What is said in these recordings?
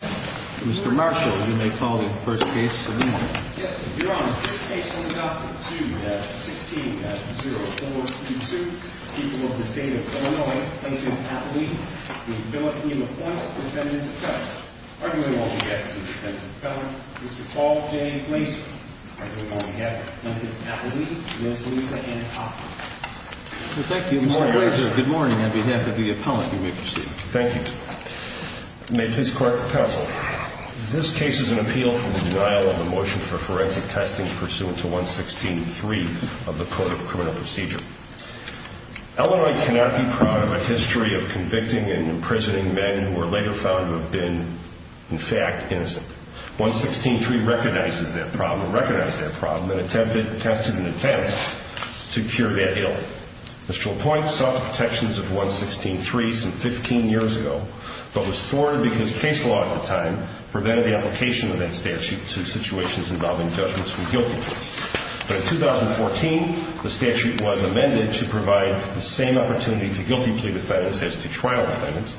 Mr. Marshall, you may call the first case of the morning. Yes, Your Honor. This case will be adopted. 2-16-0432. People of the State of Illinois, Agent Atlee, v. Billet v. LaPointe, Defendant Defendant. Arguing all together is the Defendant Defendant, Mr. Paul J. Blaser. Arguing all together, Agent Atlee, Ms. Lisa Ann Cochran. Thank you, Mr. Blaser. Good morning on behalf of the appellant you may proceed. Thank you. May it please the Court of Counsel. This case is an appeal for the denial of a motion for forensic testing pursuant to 1-16-3 of the Code of Criminal Procedure. Illinois cannot be proud of a history of convicting and imprisoning men who were later found to have been, in fact, innocent. 1-16-3 recognizes that problem and attempted to test and attempt to cure that ailment. Mr. LaPointe sought the protections of 1-16-3 some 15 years ago, but was thwarted because case law at the time prevented the application of that statute to situations involving judgments from guilty pleas. But in 2014, the statute was amended to provide the same opportunity to guilty plea defendants as to trial defendants.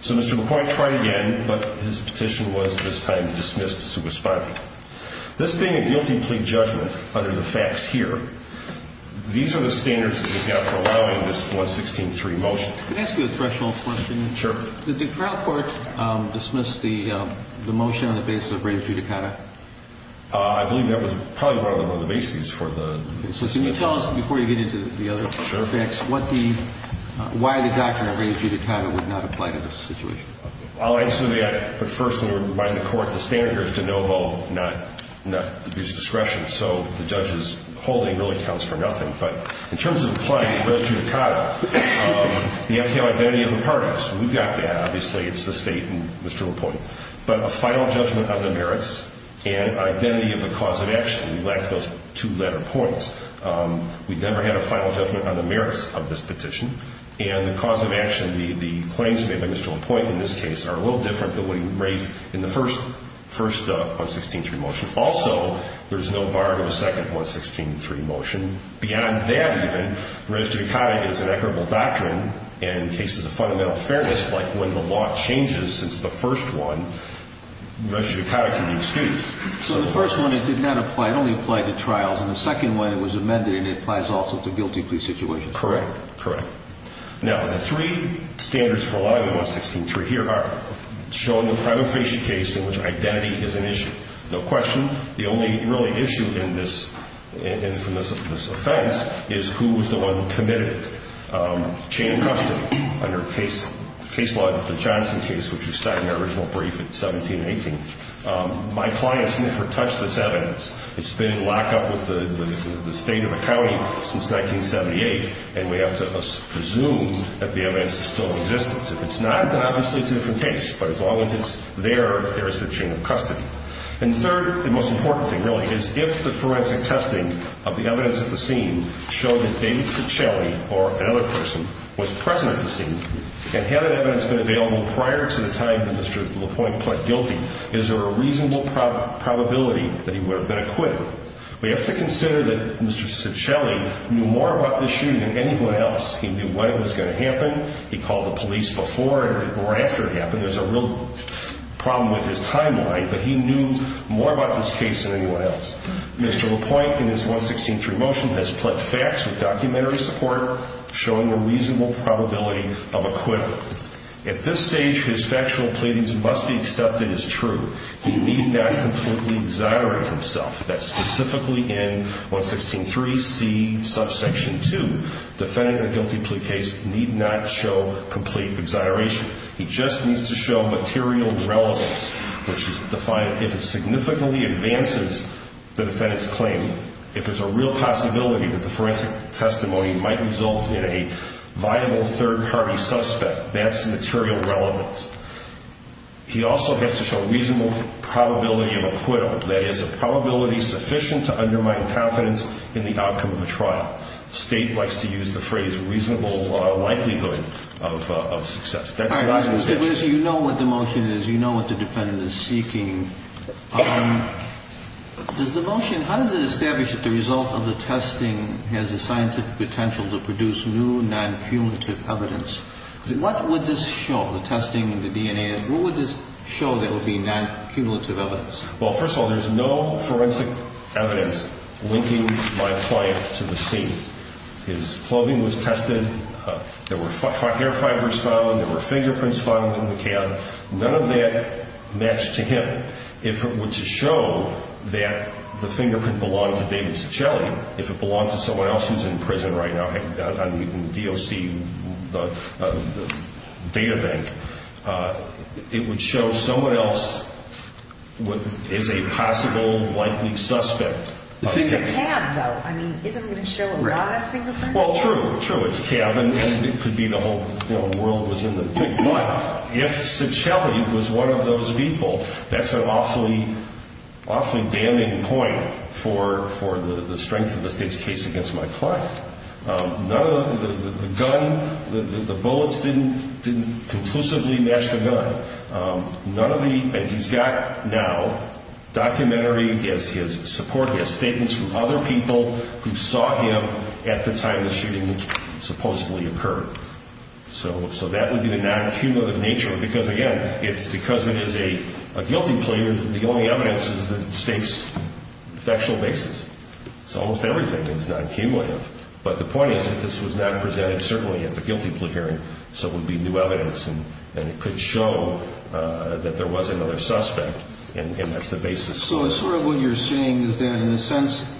So Mr. LaPointe tried again, but his petition was this time dismissed superspondingly. This being a guilty plea judgment under the facts here, these are the standards that we have for allowing this 1-16-3 motion. Can I ask you a threshold question? Sure. Did the trial court dismiss the motion on the basis of ready judicata? I believe that was probably one of the bases for the motion. Can you tell us, before you get into the other facts, why the doctrine of ready judicata would not apply to this situation? I'll answer that, but first let me remind the court the standard here is de novo, not abuse of discretion. So the judge's holding really counts for nothing. But in terms of applying ready judicata, the FTO identity of the parties, we've got that. Obviously, it's the State and Mr. LaPointe. But a final judgment of the merits and identity of the cause of action, we lack those two-letter points. We've never had a final judgment on the merits of this petition. And the cause of action, the claims made by Mr. LaPointe in this case are a little different than what he raised in the first 1-16-3 motion. Also, there's no bar to a second 1-16-3 motion. Beyond that, even, ready judicata is an equitable doctrine, and in cases of fundamental fairness, like when the law changes since the first one, ready judicata can be excused. So the first one, it did not apply. It only applied to trials. And the second one, it was amended, and it applies also to guilty plea situations. Correct. Correct. Now, the three standards for law in the 1-16-3 here are showing a prima facie case in which identity is an issue. No question. The only really issue in this offense is who was the one who committed chain of custody under case law, the Johnson case, which was set in the original brief in 17-18. My clients never touched this evidence. It's been locked up with the State of the County since 1978, and we have to presume that the evidence is still in existence. If it's not, then obviously it's a different case. But as long as it's there, there is the chain of custody. And third, the most important thing, really, is if the forensic testing of the evidence at the scene showed that David Ciccelli or another person was present at the scene, and had that evidence been available prior to the time that Mr. LaPointe pled guilty, is there a reasonable probability that he would have been acquitted? We have to consider that Mr. Ciccelli knew more about this shooting than anyone else. He knew when it was going to happen. He called the police before or after it happened. There's a real problem with his timeline, but he knew more about this case than anyone else. Mr. LaPointe, in his 1-16-3 motion, has pled facts with documentary support, showing a reasonable probability of acquittal. At this stage, his factual pleadings must be accepted as true. He need not completely exonerate himself. That's specifically in 1-16-3C, subsection 2. Defending a guilty plea case need not show complete exoneration. He just needs to show material relevance, which is defined if it significantly advances the defendant's claim. If there's a real possibility that the forensic testimony might result in a viable third-party suspect, that's material relevance. He also has to show reasonable probability of acquittal, that is a probability sufficient to undermine confidence in the outcome of a trial. State likes to use the phrase reasonable likelihood of success. That's not in this case. You know what the motion is. You know what the defendant is seeking. How does it establish that the result of the testing has the scientific potential to produce new non-cumulative evidence? What would this show, the testing and the DNA? What would this show that would be non-cumulative evidence? Well, first of all, there's no forensic evidence linking my client to the scene. His clothing was tested. There were hair fibers found. There were fingerprints found on the cab. None of that matched to him. If it were to show that the fingerprint belonged to David Ciccelli, if it belonged to someone else who's in prison right now on the DOC databank, it would show someone else is a possible likely suspect. It's a cab, though. I mean, isn't it going to show a live fingerprint? Well, true, true. It's a cab, and it could be the whole world was in the thing. But if Ciccelli was one of those people, that's an awfully damning point for the strength of the state's case against my client. None of the gun, the bullets didn't conclusively match the gun. None of the, and he's got now documentary as his support. He has statements from other people who saw him at the time the shooting supposedly occurred. So that would be the non-cumulative nature. Because, again, it's because it is a guilty plea, the only evidence is the state's factual basis. So almost everything is non-cumulative. But the point is that this was not presented, certainly, at the guilty plea hearing, so it would be new evidence, and it could show that there was another suspect, and that's the basis. So sort of what you're saying is that, in a sense,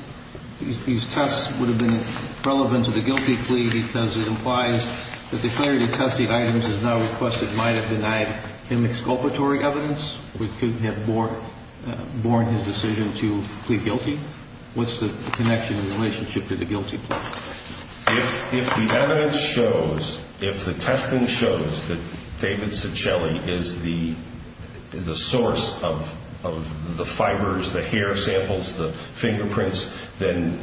these tests would have been relevant to the guilty plea because it implies that the clarity of testing items is now requested. It might have denied him exculpatory evidence. We couldn't have borne his decision to plead guilty. What's the connection in relationship to the guilty plea? If the evidence shows, if the testing shows that David Ciccelli is the source of the fibers, the hair samples, the fingerprints, then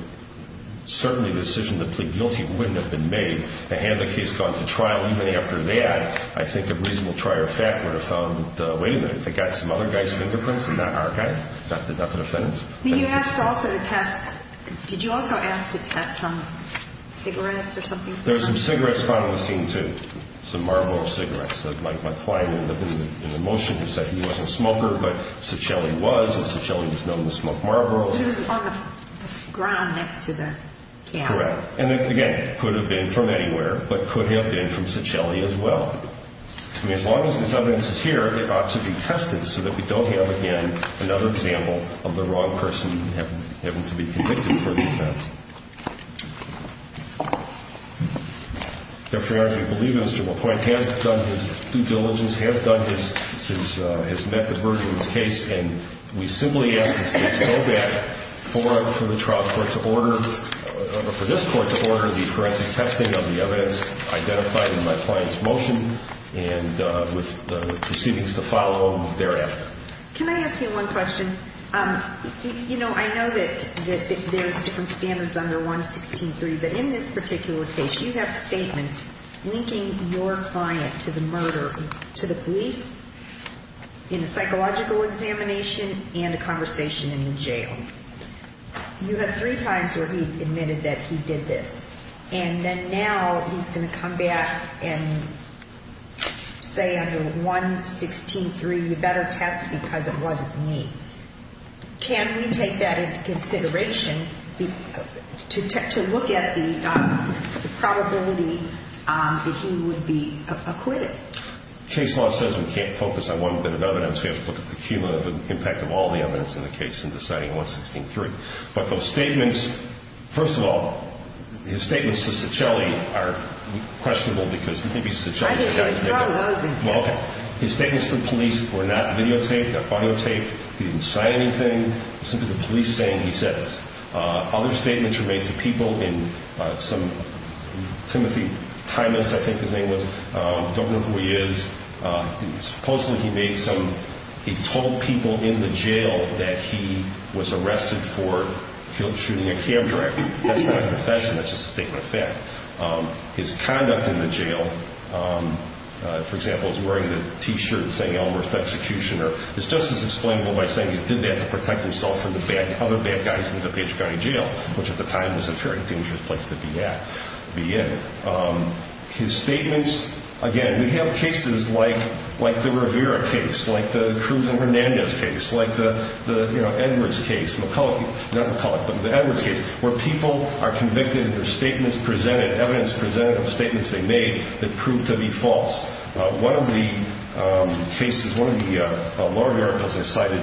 certainly the decision to plead guilty wouldn't have been made. Had the case gone to trial even after that, I think a reasonable trier of fact would have found, wait a minute, they got some other guy's fingerprints and not our guy? Not the defendant's? You asked also to test, did you also ask to test some cigarettes or something? There were some cigarettes found on the scene too, some Marlboro cigarettes. My client ended up in the motion. He said he wasn't a smoker, but Ciccelli was, and Ciccelli was known to smoke Marlboro. It was on the ground next to the camp. Correct. And, again, could have been from anywhere, but could have been from Ciccelli as well. I mean, as long as this evidence is here, it ought to be tested so that we don't have, again, another example of the wrong person having to be convicted for the offense. Your Honor, we believe Mr. McCoy has done his due diligence, has met the burden of his case, and we simply ask that the case go back for the trial court to order, for this court to order the forensic testing of the evidence identified in my client's motion and with the proceedings to follow thereafter. Can I ask you one question? You know, I know that there's different standards under 116.3, but in this particular case, you have statements linking your client to the murder, to the police in a psychological examination and a conversation in the jail. You had three times where he admitted that he did this, and then now he's going to come back and say under 116.3, you better test because it wasn't me. Can we take that into consideration to look at the probability that he would be acquitted? Case law says we can't focus on one bit of evidence. We have to look at the cumulative impact of all the evidence in the case in deciding 116.3. But those statements, first of all, his statements to Ciccelli are questionable because maybe Ciccelli's the guy who did it. His statements to the police were not videotaped, not audiotaped. He didn't say anything. It was simply the police saying he said this. Other statements were made to people in some Timothy Timas, I think his name was. I don't know who he is. Supposedly, he told people in the jail that he was arrested for shooting a cab driver. That's just a statement of fact. His conduct in the jail, for example, is wearing the T-shirt saying Elmhurst Executioner. It's just as explainable by saying he did that to protect himself from the other bad guys in the DuPage County Jail, which at the time was a very dangerous place to be in. His statements, again, we have cases like the Rivera case, like the Cruz and Hernandez case, like the Edwards case, McCulloch, not McCulloch, the Edwards case, where people are convicted and there's statements presented, evidence presented of statements they made that proved to be false. One of the cases, one of the lower miracles I cited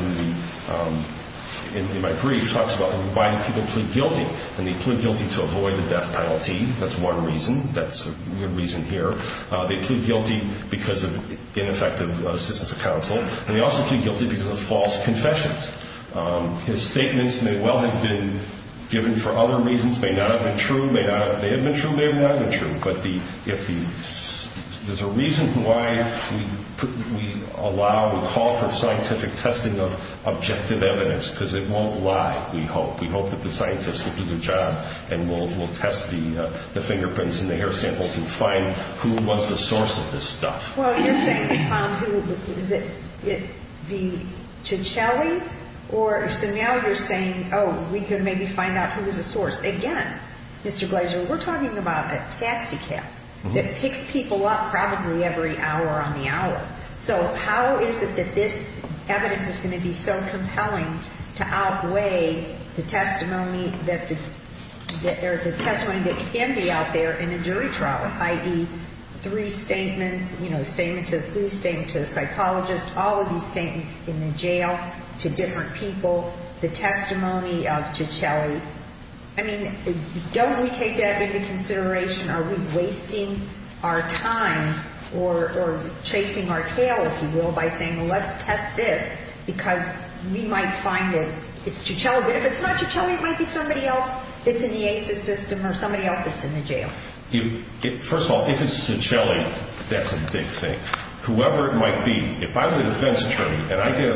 in my brief talks about why people plead guilty, and they plead guilty to avoid the death penalty. That's one reason. That's a good reason here. They plead guilty because of ineffective assistance of counsel, and they also plead guilty because of false confessions. His statements may well have been given for other reasons. May not have been true. May not have been true. May have not been true. But there's a reason why we allow, we call for scientific testing of objective evidence, because it won't lie, we hope. We hope that the scientists will do their job and we'll test the fingerprints and the hair samples and find who was the source of this stuff. Well, you're saying they found who, is it the Cicelli? So now you're saying, oh, we can maybe find out who was the source. Again, Mr. Glazer, we're talking about a taxi cab that picks people up probably every hour on the hour. So how is it that this evidence is going to be so compelling to outweigh the testimony that can be out there in a jury trial, i.e., three statements, you know, a statement to the police, statement to a psychologist, all of these statements in the jail to different people, the testimony of Cicelli. I mean, don't we take that into consideration? Are we wasting our time or chasing our tail, if you will, by saying, well, let's test this, because we might find that it's Cicelli, but if it's not Cicelli, it might be somebody else that's in the ACES system or somebody else that's in the jail. First of all, if it's Cicelli, that's a big thing. Whoever it might be, if I'm the defense attorney and I get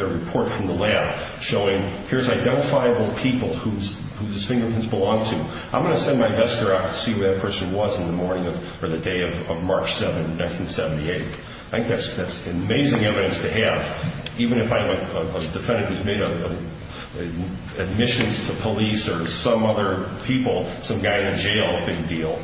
a report from the lab showing, here's identifiable people whose fingerprints belong to, I'm going to send my investigator out to see who that person was in the morning or the day of March 7, 1978. I think that's amazing evidence to have, even if I'm a defendant who's made admissions to police or some other people, some guy in jail, big deal.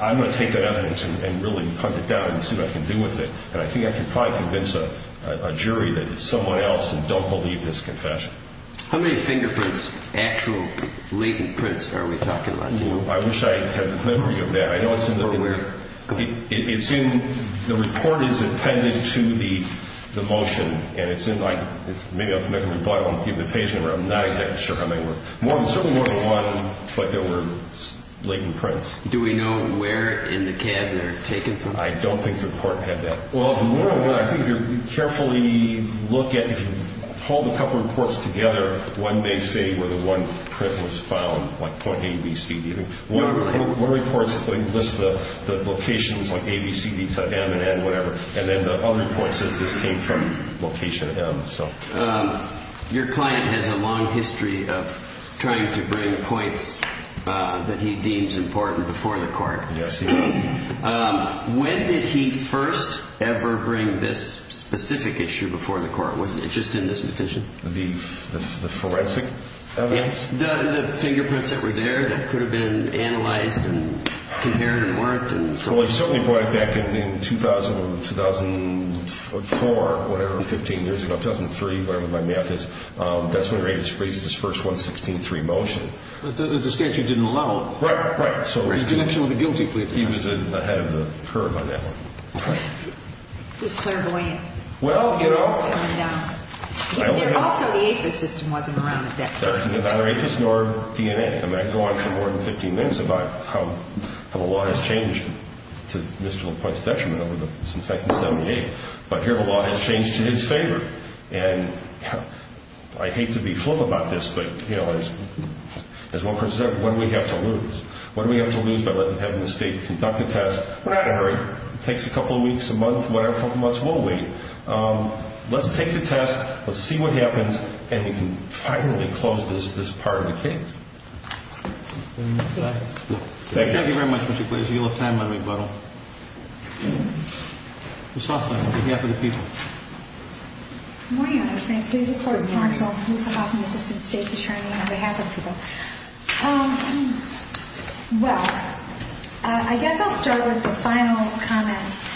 I'm going to take that evidence and really hunt it down and see what I can do with it. And I think I can probably convince a jury that it's someone else and don't believe this confession. How many fingerprints, actual latent prints, are we talking about here? I wish I had the memory of that. I know it's in the report. It's in, the report is appended to the motion, and it's in, like, I'm not exactly sure how many were. Certainly more than one, but there were latent prints. Do we know where in the cab they're taken from? I don't think the report had that. Well, I think if you carefully look at, if you hold a couple reports together, one may say where the one print was found, like point A, B, C, D. One of the reports lists the locations, like A, B, C, D, to M and N, whatever, and then the other report says this came from location M. Your client has a long history of trying to bring points that he deems important before the court. Yes, he has. When did he first ever bring this specific issue before the court? Was it just in this petition? The forensic evidence? The fingerprints that were there that could have been analyzed and compared and worked. Well, he certainly brought it back in 2004, whatever, 15 years ago, 2003, whatever my math is. That's when Reifus raised his first 116.3 motion. But the statute didn't allow it. Right, right. So he was actually guilty. He was ahead of the curve on that one. It was clairvoyant. Well, you know. And also the APHIS system wasn't around at that time. Neither APHIS nor DNA. I could go on for more than 15 minutes about how the law has changed to Mr. LaPointe's detriment since 1978. But here the law has changed in his favor. And I hate to be flip about this, but, you know, as one person said, what do we have to lose? What do we have to lose by letting the head of the state conduct a test? We're not in a hurry. It takes a couple of weeks, a month, whatever, a couple of months. We'll wait. Let's take the test. Let's see what happens. And we can finally close this part of the case. Thank you. Thank you very much, Mr. Glazer. You'll have time on rebuttal. Ms. Hoffman, on behalf of the people. Good morning, Your Honor. Thank you. Ms. Hoffman, Assistant State's Attorney on behalf of the people. Well, I guess I'll start with the final comment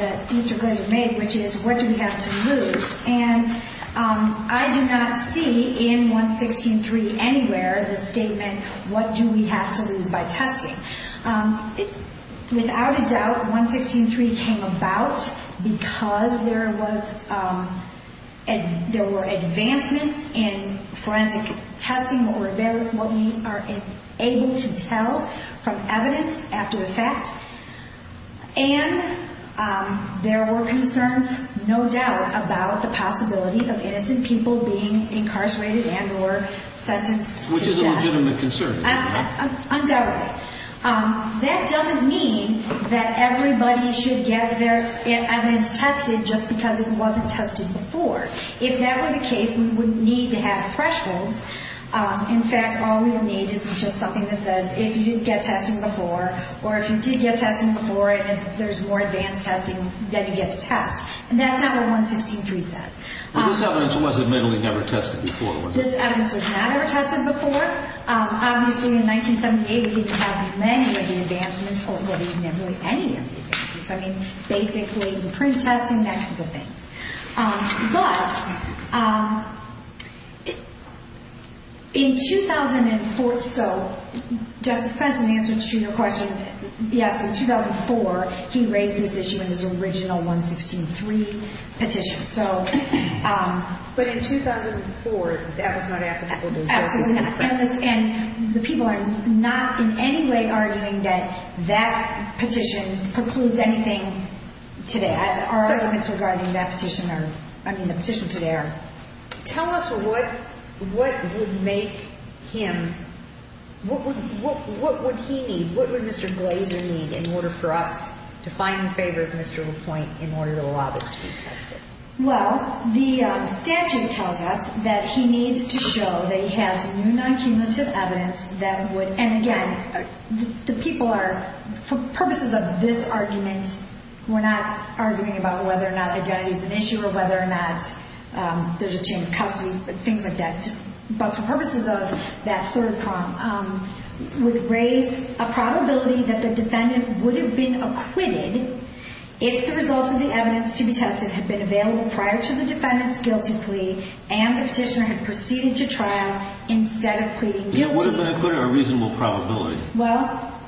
that Mr. Glazer made, which is what do we have to lose? And I do not see in 116.3 anywhere the statement, what do we have to lose by testing? Without a doubt, 116.3 came about because there were advancements in forensic testing, what we are able to tell from evidence after the fact. And there were concerns, no doubt, about the possibility of innocent people being incarcerated and or sentenced to death. Which is a legitimate concern. Undoubtedly. That doesn't mean that everybody should get their evidence tested just because it wasn't tested before. If that were the case, we would need to have thresholds. In fact, all we would need is just something that says if you get testing before or if you did get testing before and there's more advanced testing, then you get to test. And that's not what 116.3 says. But this evidence was admittedly never tested before, was it? This evidence was not ever tested before. Obviously, in 1978, we didn't have many of the advancements or admittedly any of the advancements. I mean, basically the print testing, that kind of thing. But in 2004, so Justice Spence, in answer to your question, yes, in 2004, he raised this issue in his original 116.3 petition. But in 2004, that was not applicable to this case? Absolutely not. And the people are not in any way arguing that that petition precludes anything to that. Our arguments regarding that petition are, I mean, the petition today are. Tell us what would make him, what would he need, what would Mr. Glazer need in order for us to find in favor of Mr. LaPointe in order to allow this to be tested? Well, the statute tells us that he needs to show that he has non-cumulative evidence that would, and again, the people are, for purposes of this argument, we're not arguing about whether or not identity is an issue or whether or not there's a chain of custody, things like that. But for purposes of that third prong, would raise a probability that the defendant would have been acquitted if the results of the evidence to be tested had been available prior to the defendant's guilty plea and the petitioner had proceeded to trial instead of pleading guilty. He would have been acquitted, a reasonable probability. Well?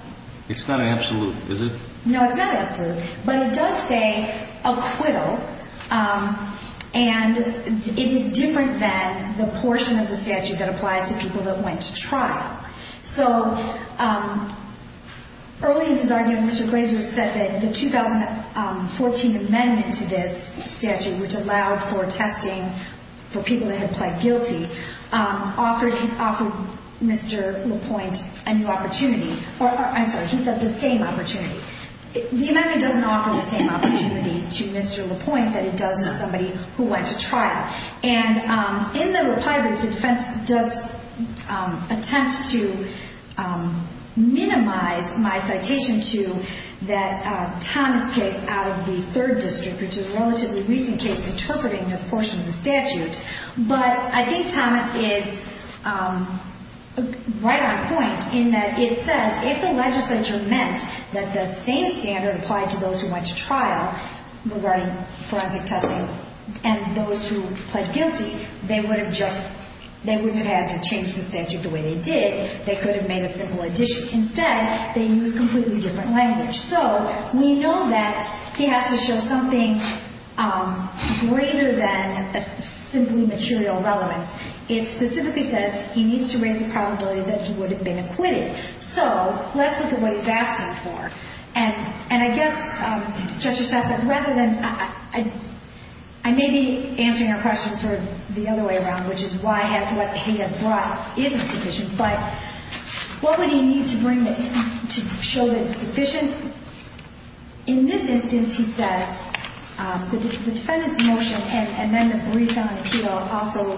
It's not absolute, is it? No, it's not absolute. But it does say acquittal, and it is different than the portion of the statute that applies to people that went to trial. So early in his argument, Mr. Glazer said that the 2014 amendment to this statute, which allowed for testing for people that had pled guilty, offered Mr. LaPointe a new opportunity, or I'm sorry, he said the same opportunity. The amendment doesn't offer the same opportunity to Mr. LaPointe that it does to somebody who went to trial. And in the reply brief, the defense does attempt to minimize my citation to that Thomas case out of the third district, which is a relatively recent case interpreting this portion of the statute. But I think Thomas is right on point in that it says if the legislature meant that the same standard applied to those who went to trial regarding forensic testing and those who pled guilty, they would have had to change the statute the way they did. They could have made a simple addition. Instead, they used a completely different language. So we know that he has to show something greater than simply material relevance. It specifically says he needs to raise the probability that he would have been acquitted. So let's look at what he's asking for. And I guess, Justice Sessom, rather than I may be answering your question sort of the other way around, which is why what he has brought isn't sufficient, but what would he need to bring to show that it's sufficient? In this instance, he says the defendant's motion and then the brief on appeal also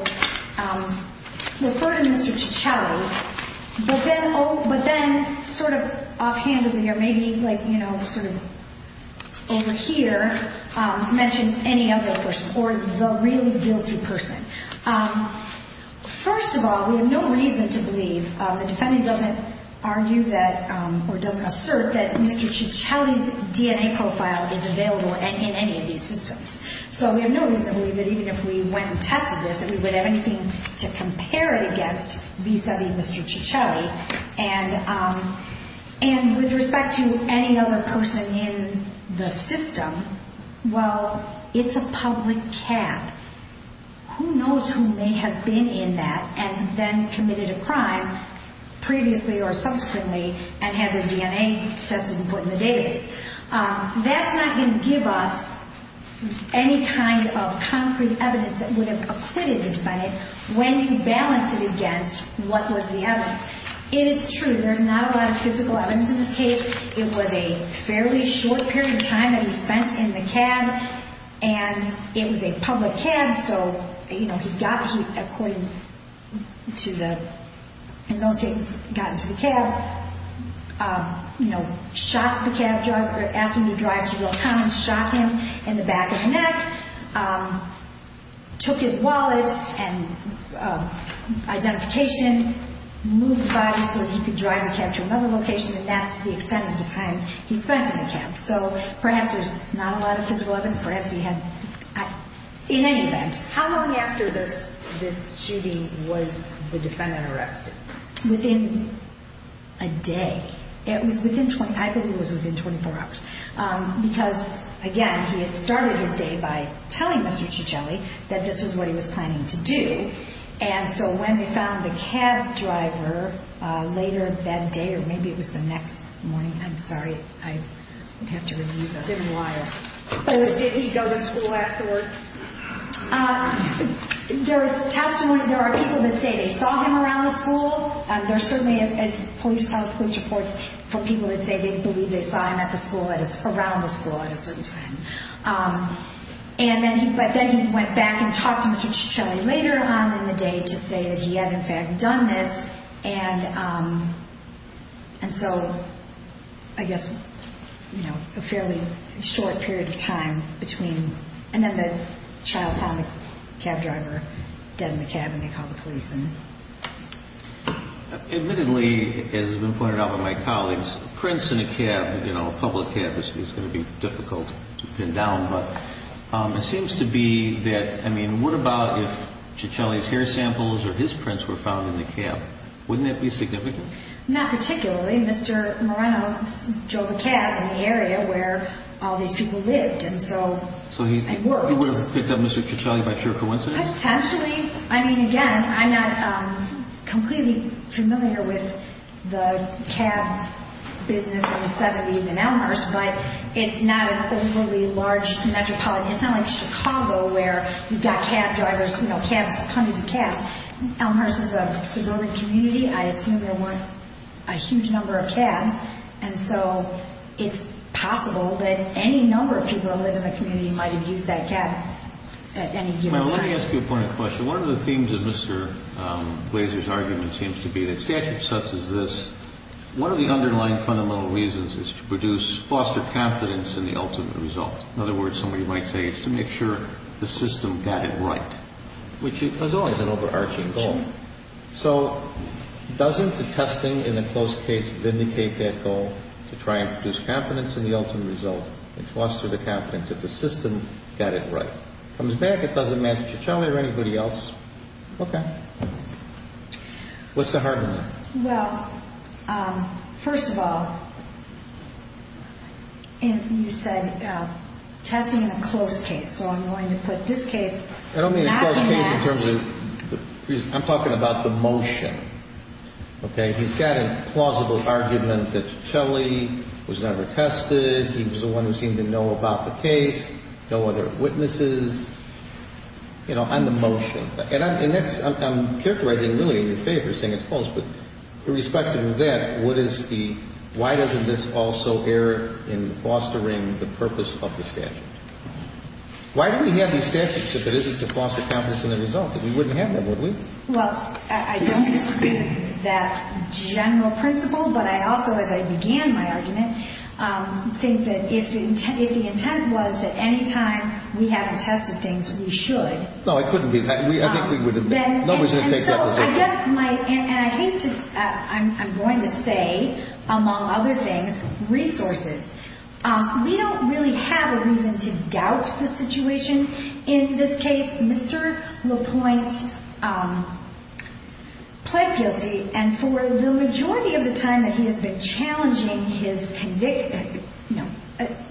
refer to Mr. Tichelli, but then sort of offhandedly or maybe like, you know, sort of over here, mention any other person or the really guilty person. First of all, we have no reason to believe the defendant doesn't argue that or doesn't assert that Mr. Tichelli's DNA profile is available in any of these systems. So we have no reason to believe that even if we went and tested this, that we would have anything to compare it against vis-a-vis Mr. Tichelli. And with respect to any other person in the system, well, it's a public cat. Who knows who may have been in that and then committed a crime previously or subsequently and had their DNA tested and put in the database? That's not going to give us any kind of concrete evidence that would have acquitted the defendant when you balance it against what was the evidence. It is true, there's not a lot of physical evidence in this case. It was a fairly short period of time that he spent in the cab, and it was a public cab, so, you know, he got, according to the, his own statements, got into the cab, you know, shot the cab driver, asked him to drive to Will Commons, shot him in the back of the neck, took his wallet and identification, moved the body so that he could drive the cab to another location, and that's the extent of the time he spent in the cab. So perhaps there's not a lot of physical evidence. Perhaps he had, in any event. How long after this shooting was the defendant arrested? Within a day. It was within, I believe it was within 24 hours. Because, again, he had started his day by telling Mr. Tichelli that this was what he was planning to do. And so when they found the cab driver later that day, or maybe it was the next morning, I'm sorry. I would have to review that. Didn't lie. Did he go to school afterward? There's testimony, there are people that say they saw him around the school. There's certainly, as police reports, for people that say they believe they saw him at the school, around the school at a certain time. But then he went back and talked to Mr. Tichelli later on in the day to say that he had, in fact, done this. And so, I guess, you know, a fairly short period of time between. And then the child found the cab driver dead in the cab and they called the police. Admittedly, as has been pointed out by my colleagues, a prince in a cab, you know, a public cab is going to be difficult to pin down. But it seems to be that, I mean, what about if Tichelli's hair samples or his prints were found in the cab? Wouldn't that be significant? Not particularly. Mr. Moreno drove a cab in the area where all these people lived, and so it worked. So he would have picked up Mr. Tichelli by sheer coincidence? Potentially. I mean, again, I'm not completely familiar with the cab business in the 70s in Elmhurst, but it's not an overly large metropolitan. It's not like Chicago where you've got cab drivers, you know, hundreds of cabs. Elmhurst is a suburban community. I assume there weren't a huge number of cabs. And so it's possible that any number of people that live in the community might have used that cab at any given time. Now, let me ask you a point of question. One of the themes of Mr. Glazer's argument seems to be that statute such as this, one of the underlying fundamental reasons is to produce foster confidence in the ultimate result. In other words, somebody might say it's to make sure the system got it right, which is always an overarching goal. So doesn't the testing in the close case vindicate that goal to try and produce confidence in the ultimate result and foster the confidence that the system got it right? Comes back, it doesn't match Ciccelli or anybody else. Okay. What's the hard one? Well, first of all, you said testing in the close case. So I'm going to put this case. I don't mean the close case in terms of the reason. I'm talking about the motion. Okay. He's got a plausible argument that Ciccelli was never tested. He was the one who seemed to know about the case. No other witnesses. You know, on the motion. And I'm characterizing really in your favor saying it's close. But irrespective of that, what is the why doesn't this also err in fostering the purpose of the statute? Why do we have these statutes if it isn't to foster confidence in the result? We wouldn't have them, would we? Well, I don't disagree with that general principle. But I also, as I began my argument, think that if the intent was that any time we haven't tested things, we should. No, it couldn't be. I think we would have been. And so I guess my – and I hate to – I'm going to say, among other things, resources. We don't really have a reason to doubt the situation in this case. Mr. LaPointe pled guilty. And for the majority of the time that he has been challenging his – no,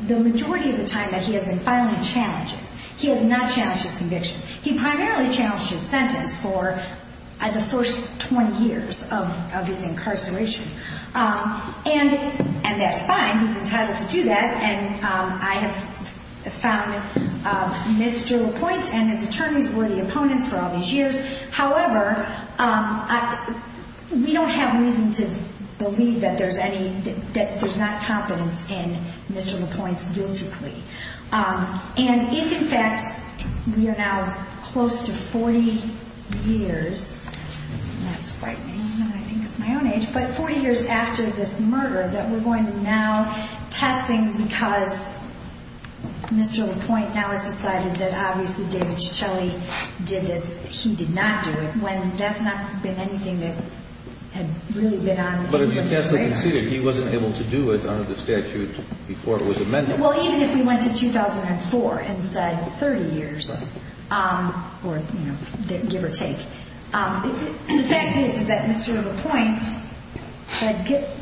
the majority of the time that he has been filing challenges, he has not challenged his conviction. He primarily challenged his sentence for the first 20 years of his incarceration. And that's fine. He's entitled to do that. And I have found Mr. LaPointe and his attorneys worthy opponents for all these years. However, we don't have reason to believe that there's any – that there's not confidence in Mr. LaPointe's guilty plea. And if, in fact, we are now close to 40 years – and that's frightening when I think of my own age – but 40 years after this murder, that we're going to now test things because Mr. LaPointe now has decided that, obviously, David Ciccelli did this. He did not do it, when that's not been anything that had really been on the agenda. But as you can see, he wasn't able to do it under the statute before it was amended. Well, even if we went to 2004 and said 30 years, or, you know, give or take, the fact is that Mr. LaPointe –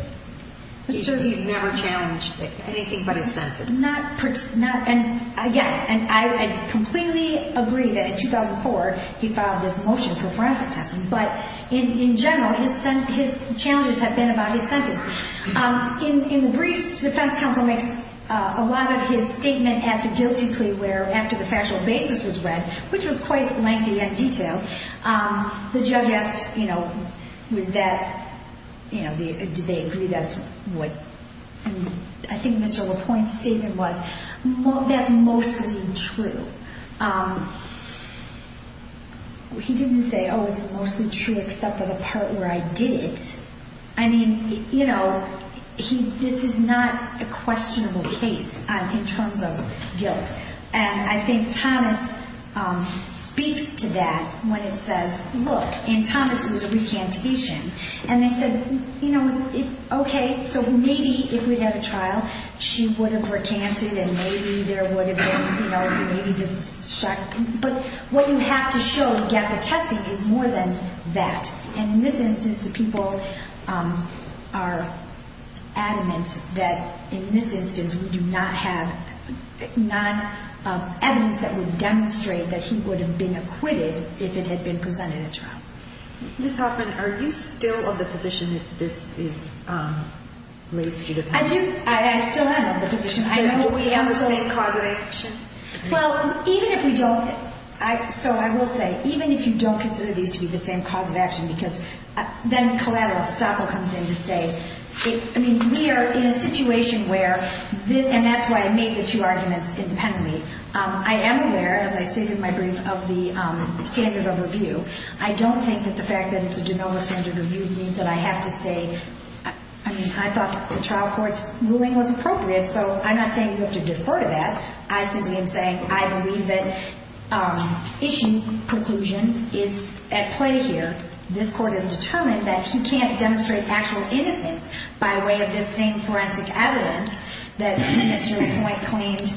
He's never challenged anything but his sentence. Not – and, again, I completely agree that in 2004 he filed this motion for forensic testing. But, in general, his challenges have been about his sentence. In the briefs defense counsel makes a lot of his statement at the guilty plea where after the factual basis was read, which was quite lengthy and detailed, the judge asked, you know, was that – you know, did they agree that's what – I think Mr. LaPointe's statement was, that's mostly true. He didn't say, oh, it's mostly true except for the part where I did it. I mean, you know, this is not a questionable case in terms of guilt. And I think Thomas speaks to that when it says, look – and Thomas was a recantation. And they said, you know, okay, so maybe if we'd had a trial, she would have recanted and maybe there would have been, you know, maybe the – But what you have to show, the gap of testing, is more than that. And in this instance, the people are adamant that in this instance we do not have – not evidence that would demonstrate that he would have been acquitted if it had been presented at trial. Ms. Hoffman, are you still of the position that this is race-judicial? I do – I still am of the position. Are we on the same cause of action? Well, even if we don't – so I will say, even if you don't consider these to be the same cause of action, because then collateral stopper comes in to say – I mean, we are in a situation where – and that's why I made the two arguments independently. I am aware, as I stated in my brief, of the standard of review. I don't think that the fact that it's a de novo standard of review means that I have to say – I mean, I thought the trial court's ruling was appropriate, so I'm not saying you have to defer to that. I simply am saying I believe that issue conclusion is at play here. This Court has determined that he can't demonstrate actual innocence by way of this same forensic evidence that Mr. Point claimed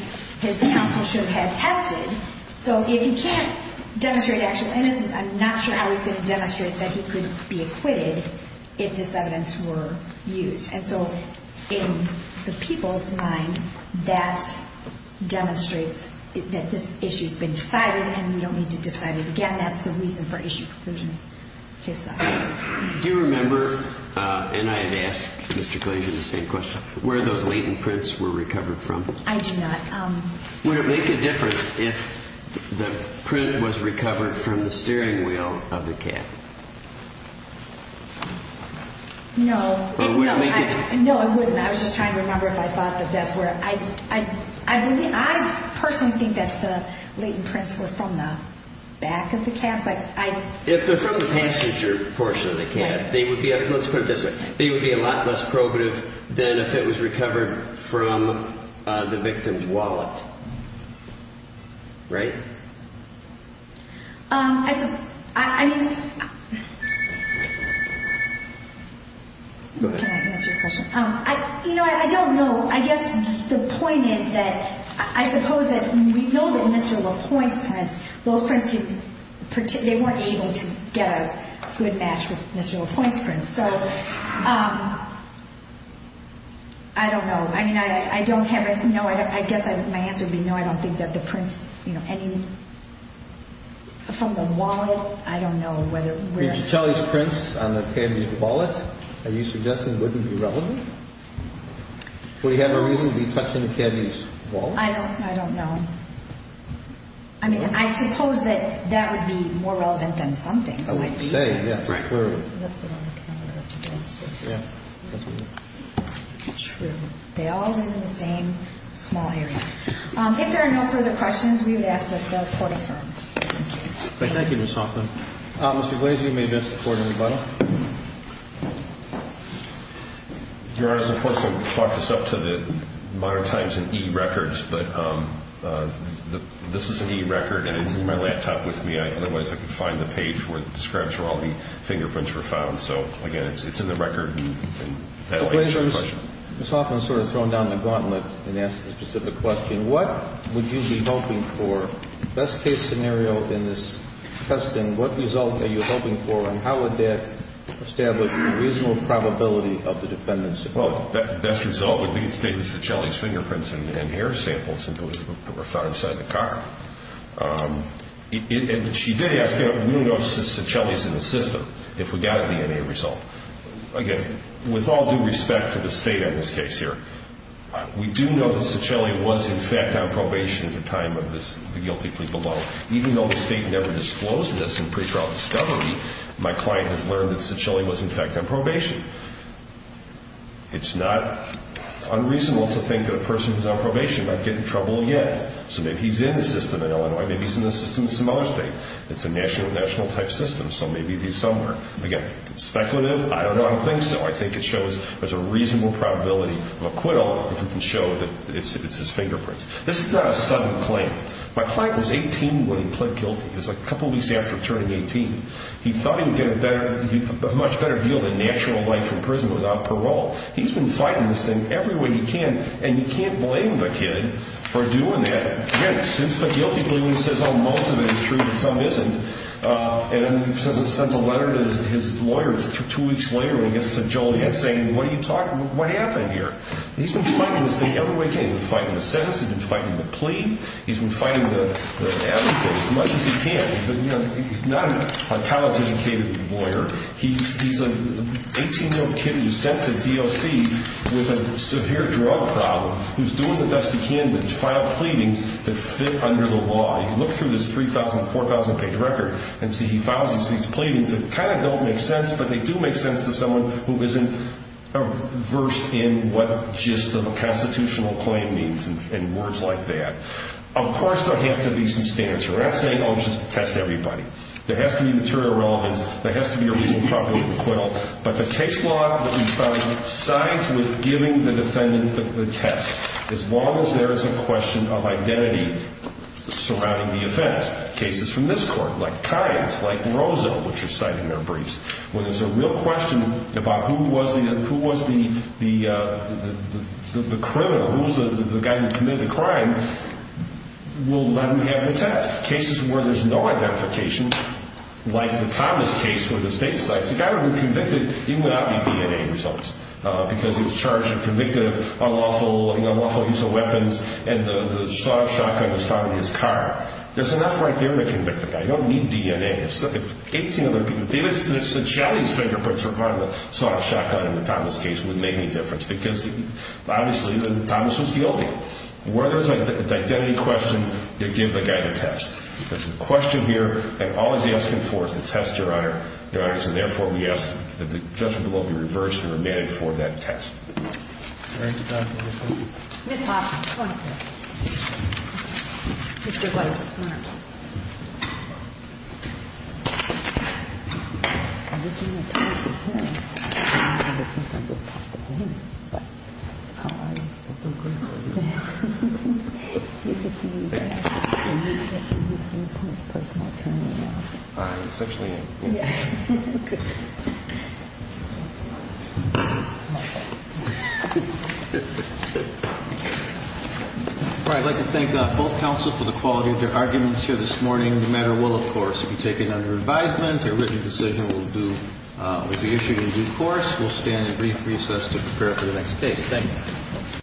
his counsel should have tested. So if he can't demonstrate actual innocence, I'm not sure how he's going to demonstrate that he could be acquitted if this evidence were used. And so in the people's mind, that demonstrates that this issue has been decided and we don't need to decide it again. That's the reason for issue conclusion. Do you remember – and I had asked Mr. Glazier the same question – where those latent prints were recovered from? I do not. Would it make a difference if the print was recovered from the steering wheel of the cab? No. No, it wouldn't. I was just trying to remember if I thought that that's where – I personally think that the latent prints were from the back of the cab, but I – If they're from the passenger portion of the cab, they would be – let's put it this way – they would be a lot less probative than if it was recovered from the victim's wallet. Right? I mean – Go ahead. Can I answer your question? You know, I don't know. I guess the point is that I suppose that we know that Mr. LaPointe's prints, those prints didn't – they weren't able to get a good match with Mr. LaPointe's prints. So I don't know. I mean, I don't have – no, I guess my answer would be no, I don't think that the prints, you know, any – from the wallet, I don't know whether – Did you tell his prints on the cabbie's wallet? Are you suggesting it wouldn't be relevant? Would he have a reason to be touching the cabbie's wallet? I don't know. I mean, I suppose that that would be more relevant than some things. I would say, yes. Right. True. They all live in the same small area. If there are no further questions, we would ask that the court affirm. Thank you. Thank you, Ms. Hoffman. Mr. Glazer, you may address the court, if you'd like. Your Honor, first I'll chalk this up to the modern times and e-records, but this is an e-record and it's in my laptop with me. Otherwise, I could find the page where the scraps from all the fingerprints were found. So, again, it's in the record. Mr. Glazer, Ms. Hoffman sort of thrown down the gauntlet and asked a specific question. What would you be hoping for, best case scenario in this testing, what result are you hoping for and how would that establish a reasonable probability of the defendant's support? Well, the best result would be to state that Saccelli's fingerprints and hair samples were found inside the car. And she did ask, we don't know if Saccelli's in the system, if we got a DNA result. Again, with all due respect to the State on this case here, we do know that Saccelli was, in fact, on probation at the time of this guilty plea below. Even though the State never disclosed this in pretrial discovery, my client has learned that Saccelli was, in fact, on probation. It's not unreasonable to think that a person who's on probation might get in trouble again. So maybe he's in the system in Illinois, maybe he's in the system in some other state. It's a national-type system, so maybe he's somewhere. Again, speculative? I don't know. I don't think so. I think it shows there's a reasonable probability of acquittal if we can show that it's his fingerprints. This is not a sudden claim. My client was 18 when he pled guilty. It was a couple weeks after turning 18. He thought he would get a much better deal than natural life in prison without parole. He's been fighting this thing every way he can, and you can't blame the kid for doing that. Again, since the guilty plea when he says, oh, most of it is true but some isn't, and then he sends a letter to his lawyer two weeks later when he gets to Joliet saying, what are you talking about? What happened here? He's been fighting this thing every way he can. He's been fighting the sentence. He's been fighting the plea. He's been fighting the advocate as much as he can. He's not a college-educated lawyer. He's an 18-year-old kid who was sent to DOC with a severe drug problem who's doing the best he can to file pleadings that fit under the law. You look through this 4,000-page record and see he files these pleadings that kind of don't make sense, but they do make sense to someone who isn't versed in what just a constitutional claim means and words like that. Of course, there has to be some stature. I'm not saying, oh, just test everybody. There has to be material relevance. There has to be a reasonable probability of acquittal. But the case law that we found sides with giving the defendant the test. As long as there is a question of identity surrounding the offense. Cases from this court, like Kynes, like Rosa, which are citing their briefs, where there's a real question about who was the criminal, who's the guy who committed the crime, we'll let him have the test. Cases where there's no identification, like the Thomas case where the state cites, the guy would be convicted even without any DNA results because he was charged and convicted of unlawful use of weapons, and the sawed shotgun was found in his car. There's enough right there to convict the guy. You don't need DNA. If 18 other people, even if it's the Jallie's fingerprints were found in the sawed shotgun in the Thomas case, it wouldn't make any difference because, obviously, Thomas was guilty. Where there's an identity question, they give the guy the test. So, therefore, yes, the judgment will be reversed and remanded for that test. Ms. Hoffman, come on up here. Mr. White, come on up. I just want to talk to her. I don't think I'm just talking to him, but how are you? I'm good, how are you? All right, I'd like to thank both counsel for the quality of their arguments here this morning. The matter will, of course, be taken under advisement. A written decision will be issued in due course. We'll stand in brief recess to prepare for the next case. Thank you.